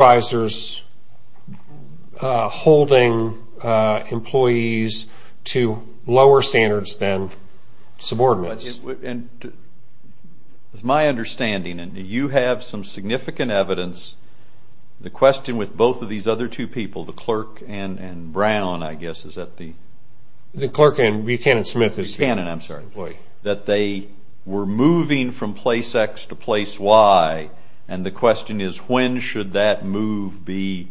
I'm sorry, that they were moving from place X to place Y, and the question is, when should that move be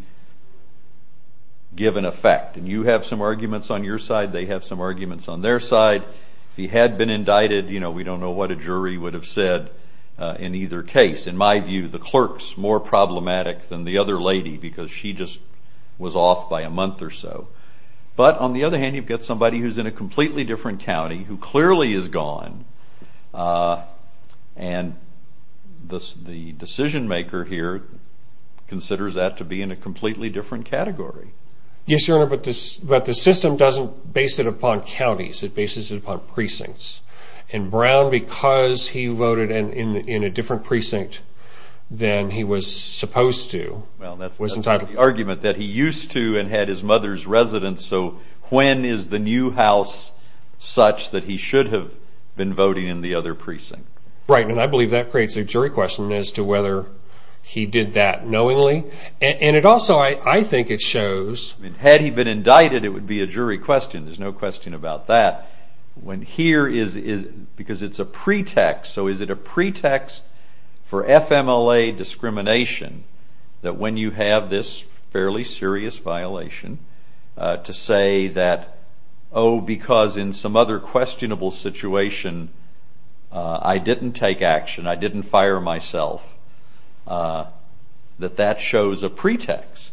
given effect? And you have some arguments on your side, they have some arguments on their side. If he had been indicted, you know, we don't know what a jury would have said in either case. In my view, the clerk's more problematic than the other lady, because she just was off by a month or so. But, on the other hand, you've got somebody who's in a completely different county, who clearly is gone, and the decision maker here, considers that to be in a completely different category. Yes, your honor, but the system doesn't base it upon counties, it bases it upon precincts. And Brown, because he voted in a different precinct than he was supposed to, was entitled... Well, that's not the argument, that he used to, and had his mother's residence, so when is the new house such that he should have been voting in the other precinct? Right, and I believe that creates a jury question as to whether he did that, knowingly, and it also, I think it shows... Had he been indicted, it would be a jury question, there's no question about that. When here, because it's a pretext, so is it a pretext for FMLA discrimination, that when you have this fairly serious violation, to say that, oh, because in some other questionable situation, I didn't take action, I didn't fire myself, that that shows a pretext?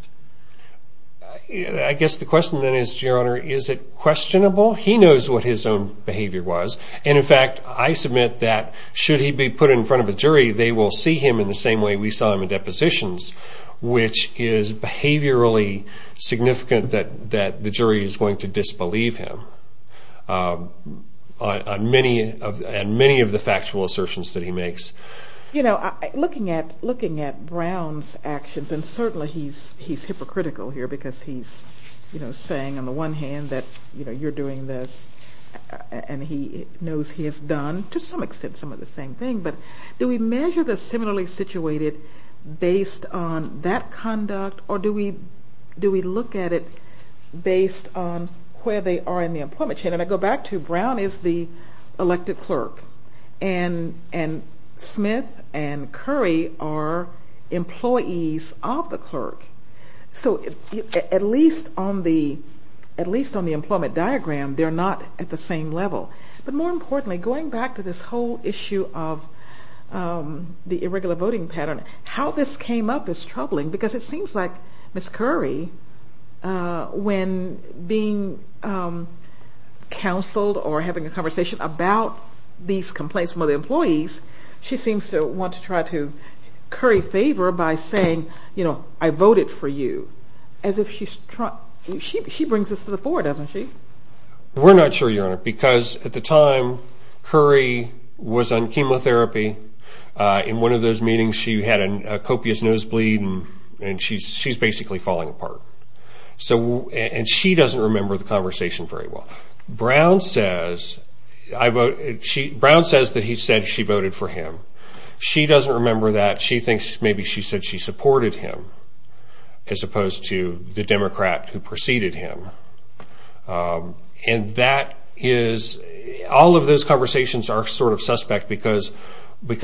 I guess the question then is, your honor, is it questionable? He knows what his own behavior was, and in fact, I submit that, should he be put in front of a jury, they will see him in the same way we saw him in depositions, which is behaviorally significant that the jury is going to disbelieve him, on many of the factual assertions that he makes. Looking at Brown's actions, and certainly he's hypocritical here, because he's saying, on the one hand, that you're doing this, and he knows he has done, to some extent, some of the same thing, but do we measure the similarly situated based on that conduct, or do we look at it based on where they are in the employment chain? And I go back to, Brown is the elected clerk, and Smith and Curry are employees of the clerk, so at least on the employment diagram, they're not at the same level. But more importantly, going back to this whole issue of the irregular voting pattern, how this came up is troubling, because it seems like Ms. Curry, when being counseled or having a conversation about these complaints from other employees, she seems to want to try to curry favor by saying, you know, I voted for you, as if she's trying, she brings this to the fore, doesn't she? We're not sure, Your Honor, because at the time, Curry was on chemotherapy, in one of those meetings, she had a copious nosebleed, and she's basically falling apart, and she doesn't remember the conversation very well. Brown says that she voted for him. She doesn't remember that. She thinks maybe she said she supported him, as opposed to the Democrat who preceded him. And that is, all of those conversations are sort of suspect, because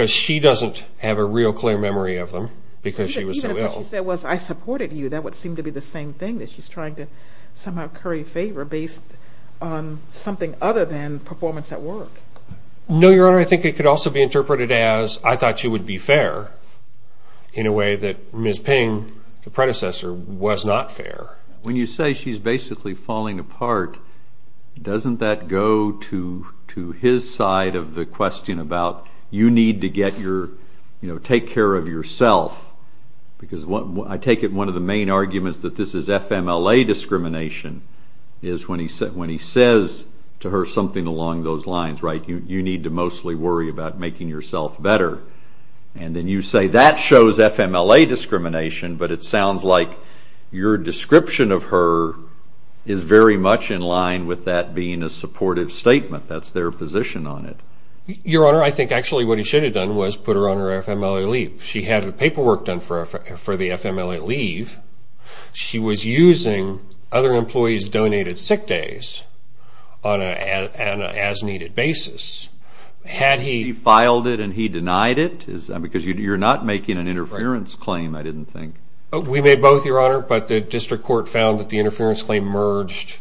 she doesn't have a real clear memory of them, because she was so ill. What she said was, I supported you. That would seem to be the same thing, that she's trying to somehow curry favor based on something other than performance at work. No, Your Honor, I think it could also be interpreted as, I thought she would be fair, in a way that Ms. Ping, the predecessor, was not fair. When you say she's basically falling apart, doesn't that go to his side of the question about, you need to get your, you know, take care of yourself? Because I take it one of the main arguments that this is FMLA discrimination is when he says to her something along those lines, right, you need to mostly worry about making yourself better. And then you say that shows FMLA discrimination, but it sounds like your description of her is very much in line with that being a supportive statement. That's their position on it. Your Honor, I think actually what he should have done was put her on her FMLA leave. She had the paperwork done for the FMLA leave. She was using other employees' donated sick days on an as-needed basis. Had he... He filed it and he denied it? Because you're not making an interference claim, I didn't think. We made both, Your Honor, but the district court found that the interference claim merged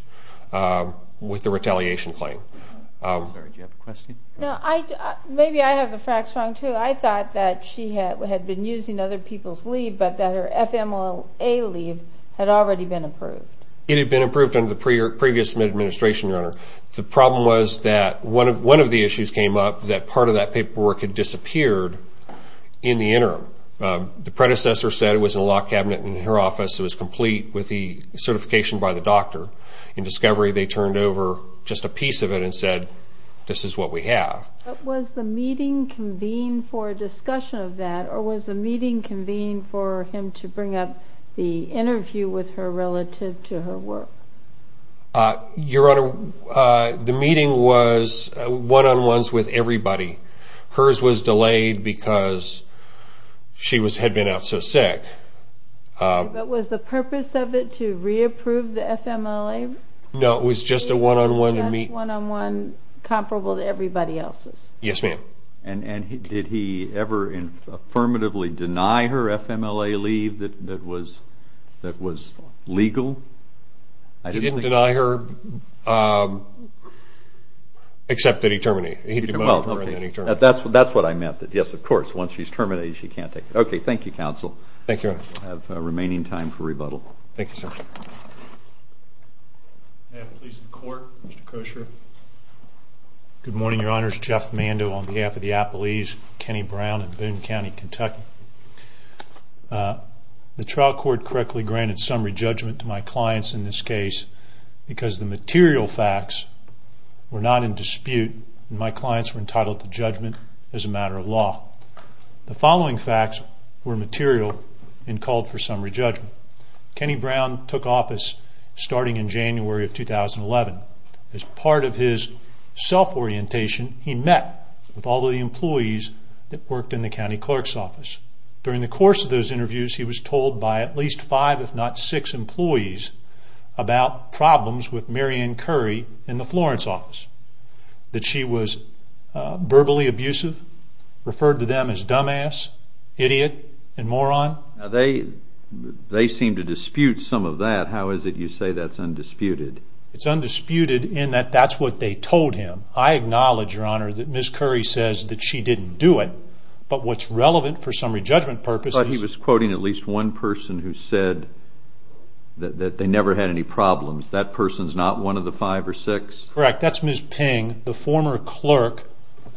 with the retaliation claim. I'm sorry, do you have a question? No, maybe I have the facts wrong too. I thought that she had been using other people's leave, but that her FMLA leave had already been approved. It had been approved under the previous administration, Your Honor. The problem was that one of the issues came up that part of that paperwork had disappeared in the interim. The predecessor said it was in a locked cabinet in her office. It was complete with the certification by the doctor. In discovery, they turned over just a piece of it and said, this is what we have. Was the meeting convened for a discussion of that, or was the meeting convened for him to bring up the interview with her relative to her work? Your Honor, the meeting was one-on-ones with everybody. Hers was delayed because she had been out so sick. But was the purpose of it to re-approve the FMLA? No, it was just a one-on-one. Just a one-on-one comparable to everybody else's? Yes, ma'am. And did he ever affirmatively deny her FMLA leave that was legal? He didn't deny her, except that he terminated her. That's what I meant. Yes, of course, once she's terminated, she can't take it. Okay, thank you, counsel. Thank you, Your Honor. I have remaining time for rebuttal. Thank you, sir. May I please have the Court, Mr. Kroescher? Good morning, Your Honors. Jeff Mando on behalf of the Appalese, Kenny Brown, and Boone County, Kentucky. The trial court correctly granted summary judgment to my clients in this case because the material facts were not in dispute, and my clients were entitled to judgment as a matter of law. The following facts were material and called for summary judgment. Kenny Brown took office starting in January of 2011. As part of his self-orientation, he met with all the employees that worked in the county clerk's office. During the course of those interviews, he was told by at least five, if not six employees, about problems with Marianne Curry in the Florence office, that she was verbally abusive, referred to them as dumbass, idiot, and moron. They seem to dispute some of that. How is it you say that's undisputed? It's undisputed in that that's what they told him. I acknowledge, Your Honor, that Ms. Curry says that she didn't do it, but what's relevant for summary judgment purposes But he was quoting at least one person who said that they never had any problems. That person's not one of the five or six? Correct. That's Ms. Ping, the former clerk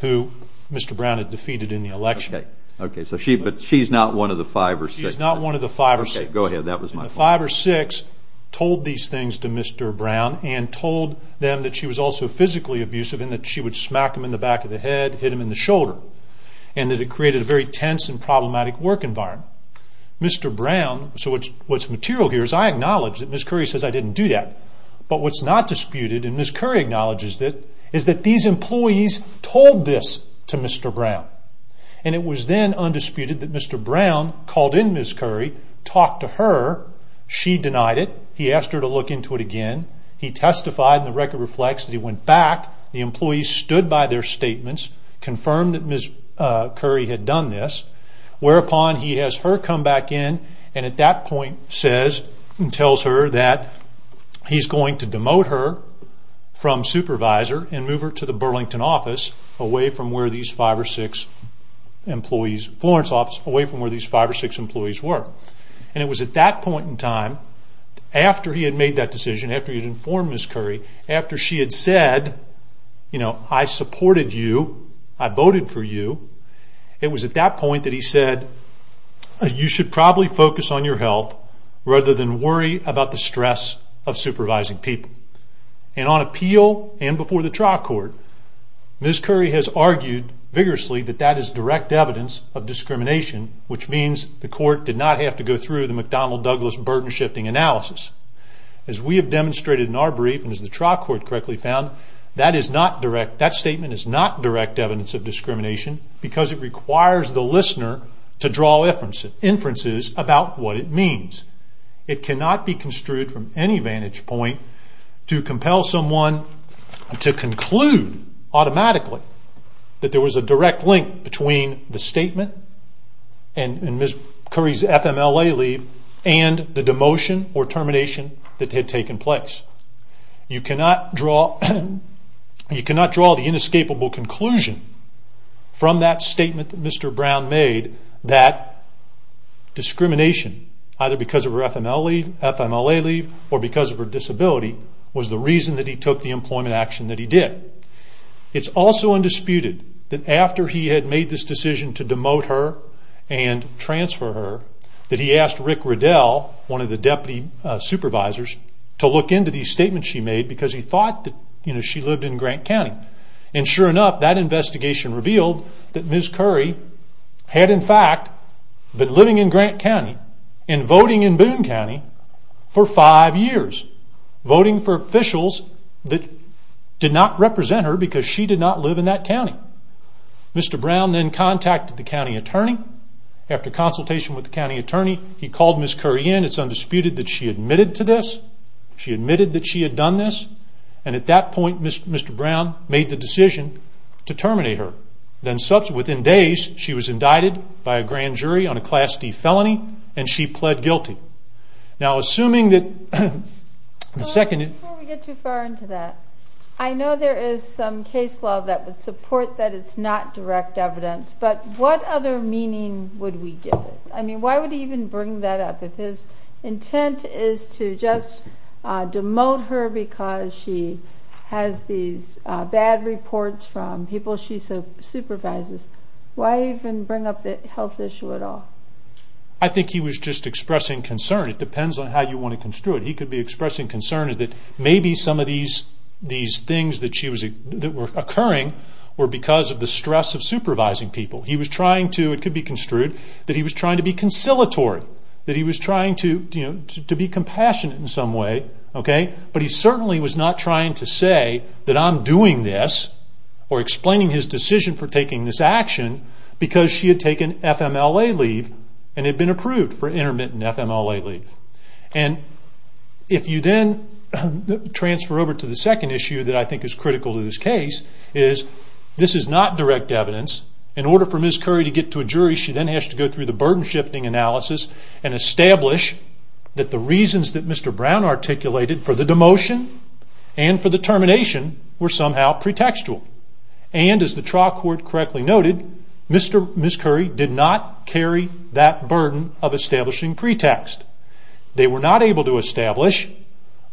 who Mr. Brown had defeated in the election. Okay, but she's not one of the five or six? She's not one of the five or six. Okay, go ahead. That was my fault. The five or six told these things to Mr. Brown and told them that she was also physically abusive and that she would smack him in the back of the head, hit him in the shoulder, and that it created a very tense and problematic work environment. Mr. Brown, so what's material here is I acknowledge that Ms. Curry says I didn't do that. But what's not disputed, and Ms. Curry acknowledges it, is that these employees told this to Mr. Brown. And it was then undisputed that Mr. Brown called in Ms. Curry, talked to her, she denied it, he asked her to look into it again, he testified and the record reflects that he went back, the employees stood by their statements, confirmed that Ms. Curry had done this, whereupon he has her come back in and at that point tells her that he's going to demote her from supervisor and move her to the Burlington office away from where these five or six employees were. And it was at that point in time, after he had made that decision, after he had informed Ms. Curry, after she had said I supported you, I voted for you, it was at that point that he said you should probably focus on your health rather than worry about the stress of supervising people. And on appeal and before the trial court, Ms. Curry has argued vigorously that that is direct evidence of discrimination, which means the court did not have to go through the McDonnell-Douglas burden shifting analysis. As we have demonstrated in our brief and as the trial court correctly found, that statement is not direct evidence of discrimination because it requires the listener to draw inferences about what it means. It cannot be construed from any vantage point to compel someone to conclude automatically that there was a direct link between the statement and Ms. Curry's FMLA leave and the demotion or termination that had taken place. You cannot draw the inescapable conclusion from that statement that Mr. Brown made that discrimination, either because of her FMLA leave or because of her disability, was the reason that he took the employment action that he did. It's also undisputed that after he had made this decision to demote her and transfer her, that he asked Rick Riddell, one of the deputy supervisors, to look into these statements she made because he thought that she lived in Grant County. Sure enough, that investigation revealed that Ms. Curry had in fact been living in Grant County and voting in Boone County for five years. Voting for officials that did not represent her because she did not live in that county. Mr. Brown then contacted the county attorney. After consultation with the county attorney, he called Ms. Curry in. It's undisputed that she admitted to this. She admitted that she had done this. At that point, Mr. Brown made the decision to terminate her. Within days, she was indicted by a grand jury on a Class D felony, and she pled guilty. Before we get too far into that, I know there is some case law that would support that it's not direct evidence, but what other meaning would we give it? Why would he even bring that up? If his intent is to just demote her because she has these bad reports from people she supervises, why even bring up the health issue at all? I think he was just expressing concern. It depends on how you want to construe it. He could be expressing concern that maybe some of these things that were occurring were because of the stress of supervising people. It could be construed that he was trying to be conciliatory, that he was trying to be compassionate in some way, but he certainly was not trying to say that I'm doing this or explaining his decision for taking this action because she had taken FMLA leave and had been approved for intermittent FMLA leave. If you then transfer over to the second issue that I think is critical to this case, is this is not direct evidence. In order for Ms. Curry to get to a jury, she then has to go through the burden shifting analysis and establish that the reasons that Mr. Brown articulated for the demotion and for the termination were somehow pretextual. As the trial court correctly noted, Ms. Curry did not carry that burden of establishing pretext. They were not able to establish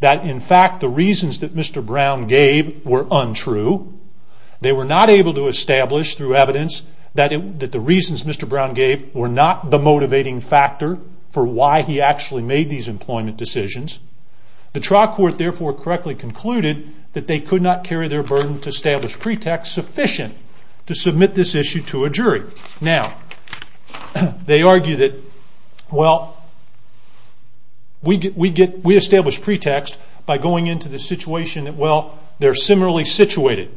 that in fact the reasons that Mr. Brown gave were untrue They were not able to establish through evidence that the reasons Mr. Brown gave were not the motivating factor for why he actually made these employment decisions. The trial court therefore correctly concluded that they could not carry their burden to establish pretext sufficient to submit this issue to a jury. They argue that we establish pretext by going into the situation where they are similarly situated.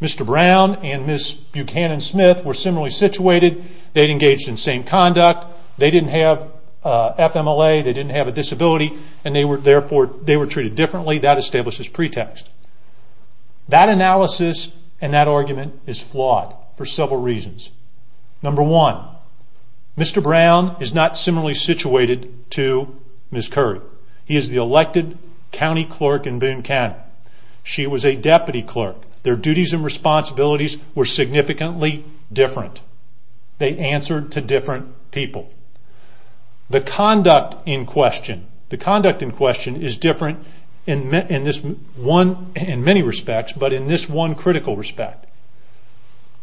Mr. Brown and Ms. Buchanan-Smith were similarly situated. They had engaged in the same conduct. They did not have FMLA. They did not have a disability. Therefore, they were treated differently. That establishes pretext. That analysis and that argument is flawed for several reasons. Number one, Mr. Brown is not similarly situated to Ms. Curry. He is the elected county clerk in Boone County. She was a deputy clerk. Their duties and responsibilities were significantly different. They answered to different people. The conduct in question is different in many respects, but in this one critical respect.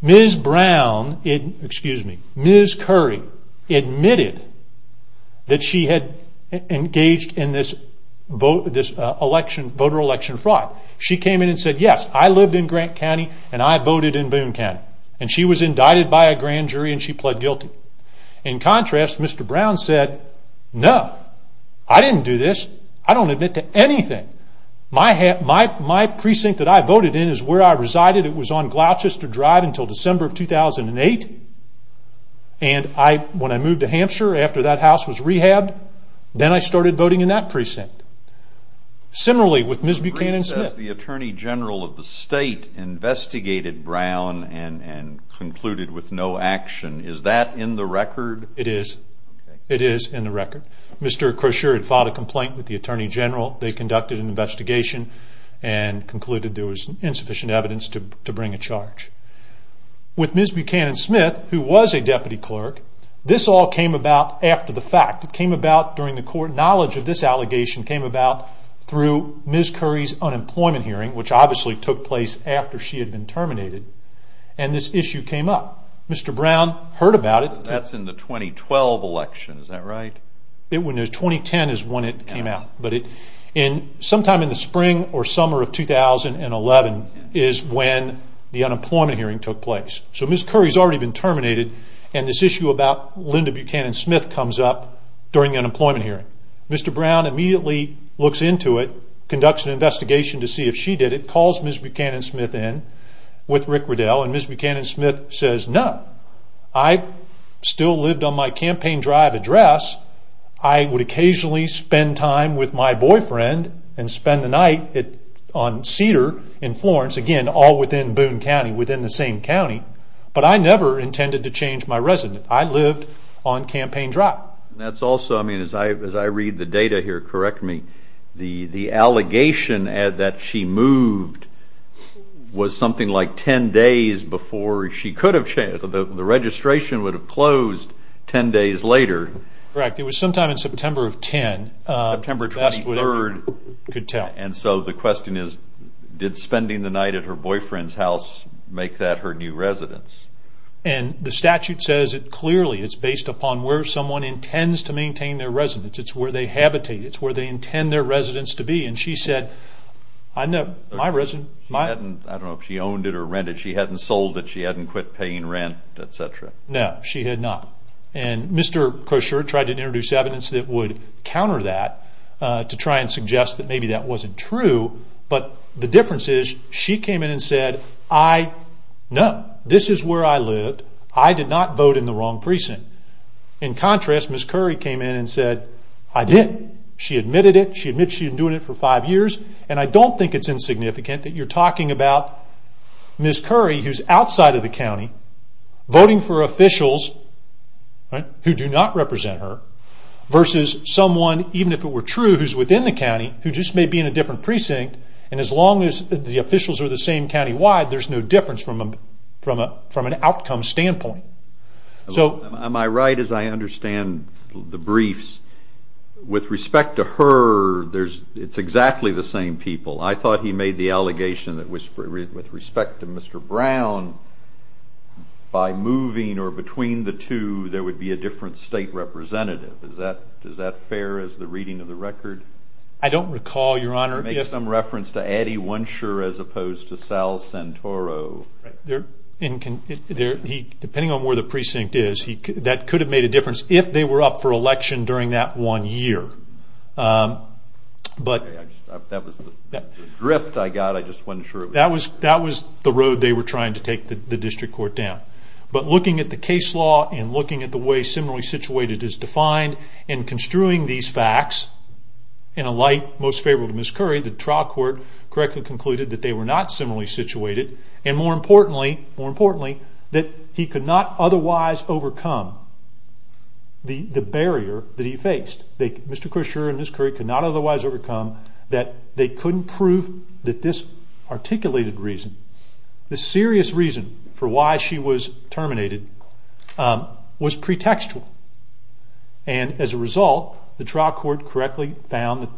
Ms. Curry admitted that she had engaged in this voter election fraud. She came in and said, Yes, I lived in Grant County and I voted in Boone County. She was indicted by a grand jury and she pled guilty. In contrast, Mr. Brown said, No, I didn't do this. I don't admit to anything. My precinct that I voted in is where I resided. It was on Gloucester Drive until December of 2008. When I moved to Hampshire after that house was rehabbed, then I started voting in that precinct. Similarly with Ms. Buchanan Smith. The Attorney General of the state investigated Brown and concluded with no action. Is that in the record? It is. It is in the record. Mr. Crozier had filed a complaint with the Attorney General. They conducted an investigation and concluded there was insufficient evidence to bring a charge. With Ms. Buchanan Smith, who was a deputy clerk, this all came about after the fact. It came about during the court. Knowledge of this allegation came about through Ms. Curry's unemployment hearing, which obviously took place after she had been terminated, and this issue came up. Mr. Brown heard about it. That's in the 2012 election. Is that right? 2010 is when it came out. Sometime in the spring or summer of 2011 is when the unemployment hearing took place. Ms. Curry has already been terminated, and this issue about Linda Buchanan Smith comes up during the unemployment hearing. Mr. Brown immediately looks into it, conducts an investigation to see if she did it, and calls Ms. Buchanan Smith in with Rick Riddell. Ms. Buchanan Smith says, No. I still lived on my campaign drive address. I would occasionally spend time with my boyfriend and spend the night on Cedar in Florence, again, all within Boone County, within the same county, but I never intended to change my residence. I lived on campaign drive. That's also, as I read the data here, correct me, the allegation that she moved was something like 10 days before she could have changed. The registration would have closed 10 days later. Correct. It was sometime in September of 10. September 23rd. The question is, did spending the night at her boyfriend's house make that her new residence? The statute says it clearly. It's based upon where someone intends to maintain their residence. It's where they habitate. It's where they intend their residence to be. She said, I don't know if she owned it or rented it. She hadn't sold it. She hadn't quit paying rent, etc. No, she had not. Mr. Kosher tried to introduce evidence that would counter that to try and suggest that maybe that wasn't true, but the difference is she came in and said, No, this is where I lived. I did not vote in the wrong precinct. In contrast, Ms. Curry came in and said, I didn't. She admitted it. She admitted it for five years. I don't think it's insignificant that you're talking about Ms. Curry, who's outside of the county, voting for officials who do not represent her, versus someone, even if it were true, who's within the county, who just may be in a different precinct. As long as the officials are the same county-wide, there's no difference from an outcome standpoint. Am I right as I understand the briefs? With respect to her, it's exactly the same people. I thought he made the allegation that with respect to Mr. Brown, by moving or between the two, there would be a different state representative. Is that fair as the reading of the record? I don't recall, Your Honor. It makes some reference to Addie Wunscher, as opposed to Sal Santoro. Depending on where the precinct is, that could have made a difference if they were up for election during that one year. That was the drift I got. I just wasn't sure. That was the road they were trying to take the district court down. But looking at the case law and looking at the way similarly situated is defined and construing these facts, in a light most favorable to Ms. Curry, the trial court correctly concluded that they were not similarly situated, and more importantly, that he could not otherwise overcome the barrier that he faced. Mr. Crusher and Ms. Curry could not otherwise overcome that they couldn't prove that this articulated reason, the serious reason for why she was terminated, was pretextual. As a result, the trial court correctly found that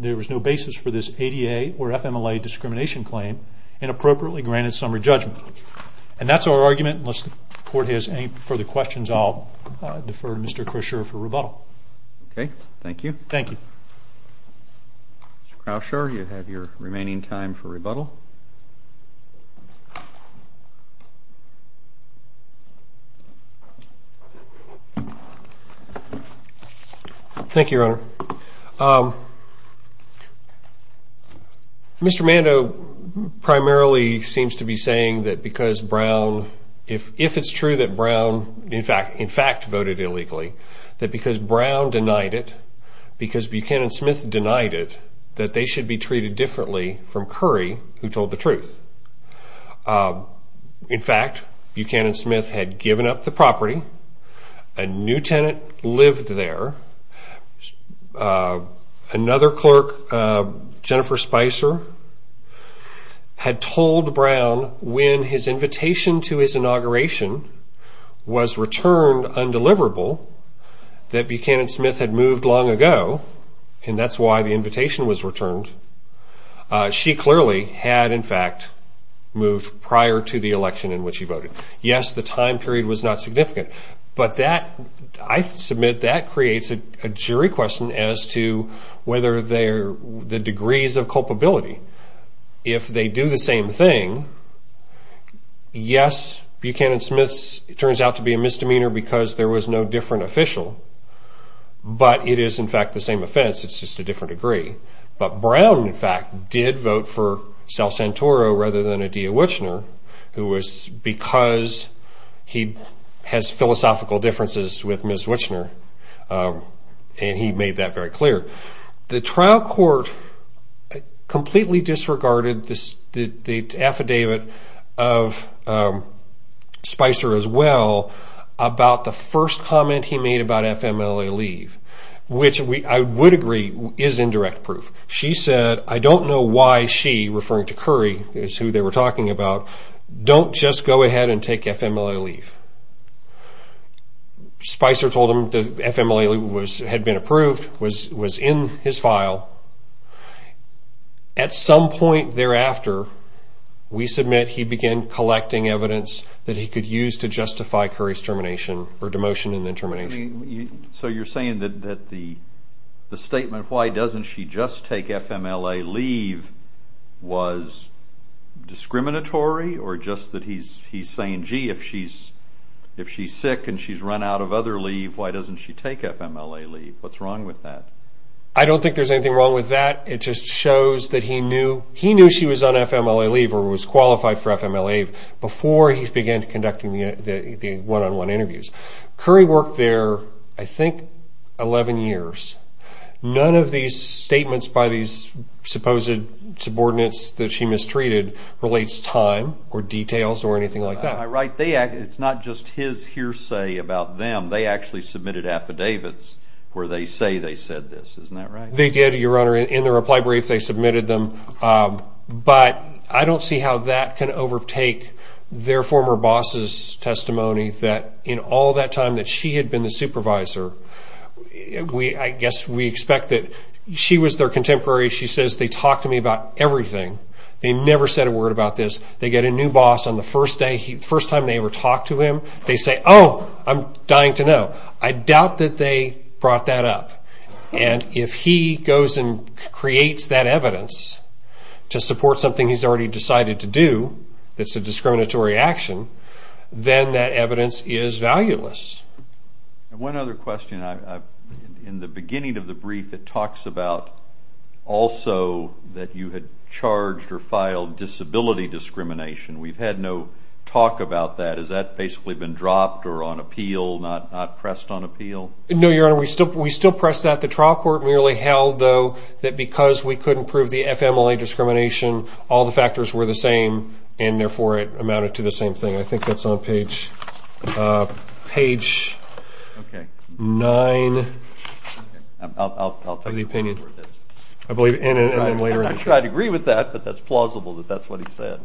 there was no basis for this ADA or FMLA discrimination claim and appropriately granted summary judgment. And that's our argument. Unless the court has any further questions, I'll defer to Mr. Crusher for rebuttal. Okay. Thank you. Thank you. Mr. Crusher, you have your remaining time for rebuttal. Thank you, Your Honor. Mr. Mando primarily seems to be saying that because Brown, if it's true that Brown in fact voted illegally, that because Brown denied it, because Buchanan Smith denied it, that they should be treated differently from Curry, who told the truth. In fact, Buchanan Smith had given up the property, a new tenant lived there, another clerk, Jennifer Spicer, had told Brown when his invitation to his inauguration was returned undeliverable, that Buchanan Smith had moved long ago, and that's why the invitation was returned, she clearly had in fact moved prior to the election in which she voted. Yes, the time period was not significant, but I submit that creates a jury question as to whether the degrees of culpability. If they do the same thing, yes, Buchanan Smith turns out to be a misdemeanor because there was no different official, but it is in fact the same offense, it's just a different degree. But Brown in fact did vote for Sal Santoro rather than Adia Wichner, because he has philosophical differences with Ms. Wichner, and he made that very clear. The trial court completely disregarded the affidavit of Spicer as well, about the first comment he made about FMLA leave, which I would agree is indirect proof. She said, I don't know why she, referring to Curry, is who they were talking about, don't just go ahead and take FMLA leave. Spicer told him that FMLA leave had been approved, was in his file. At some point thereafter, we submit he began collecting evidence that he could use to justify Curry's termination, or demotion and then termination. So you're saying that the statement, why doesn't she just take FMLA leave, was discriminatory, or just that he's saying, gee, if she's sick and she's run out of other leave, why doesn't she take FMLA leave? What's wrong with that? I don't think there's anything wrong with that. It just shows that he knew she was on FMLA leave, or was qualified for FMLA leave, before he began conducting the one-on-one interviews. Curry worked there, I think, 11 years. None of these statements, by these supposed subordinates that she mistreated, relates time, or details, or anything like that. Right. It's not just his hearsay about them. They actually submitted affidavits, where they say they said this. Isn't that right? They did, Your Honor. In the reply brief, they submitted them. But I don't see how that can overtake their former boss's testimony, that in all that time that she had been the supervisor, I guess we expect that she was their contemporary. She says, they talked to me about everything. They never said a word about this. They get a new boss on the first day. The first time they ever talked to him, they say, oh, I'm dying to know. I doubt that they brought that up. And if he goes and creates that evidence to support something he's already decided to do, that's a discriminatory action, then that evidence is valueless. One other question. In the beginning of the brief, it talks about also that you had charged or filed disability discrimination. We've had no talk about that. Has that basically been dropped or on appeal, not pressed on appeal? No, Your Honor. We still press that. The trial court merely held, though, that because we couldn't prove the FMLA discrimination, all the factors were the same, and therefore it amounted to the same thing. I think that's on page 9 of the opinion. I'm sure I'd agree with that, but that's plausible that that's what he said.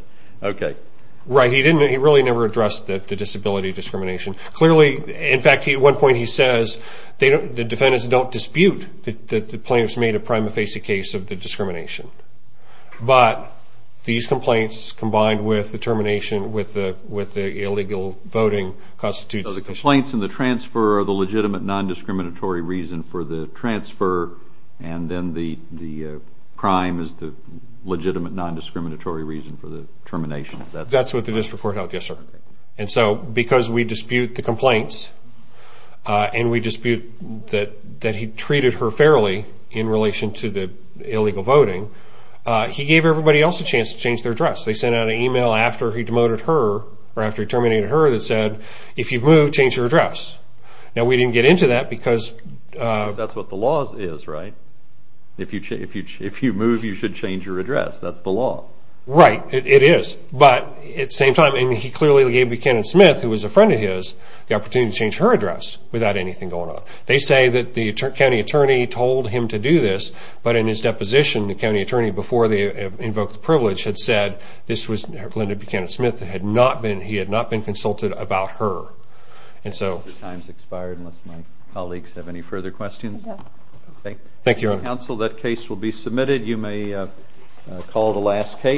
Right. He really never addressed the disability discrimination. Clearly, in fact, at one point he says the defendants don't dispute that the plaintiffs made a prima facie case of the discrimination. But these complaints combined with the termination with the illegal voting constitutes... So the complaints and the transfer are the legitimate non-discriminatory reason for the transfer, and then the crime is the legitimate non-discriminatory reason for the termination. That's what the district court held, yes, sir. And so because we dispute the complaints and we dispute that he treated her fairly in relation to the illegal voting, he gave everybody else a chance to change their dress. They sent out an email after he terminated her that said, if you've moved, change your dress. Now, we didn't get into that because... That's what the law is, right? If you move, you should change your dress. That's the law. Right, it is. But at the same time, he clearly gave Buchanan Smith, who was a friend of his, the opportunity to change her dress without anything going on. They say that the county attorney told him to do this, but in his deposition, the county attorney, before they invoked the privilege, had said this was Linda Buchanan Smith. He had not been consulted about her. And so... Time's expired, unless my colleagues have any further questions. Thank you. Thank you, Your Honor. Counsel, that case will be submitted. You may call the last case.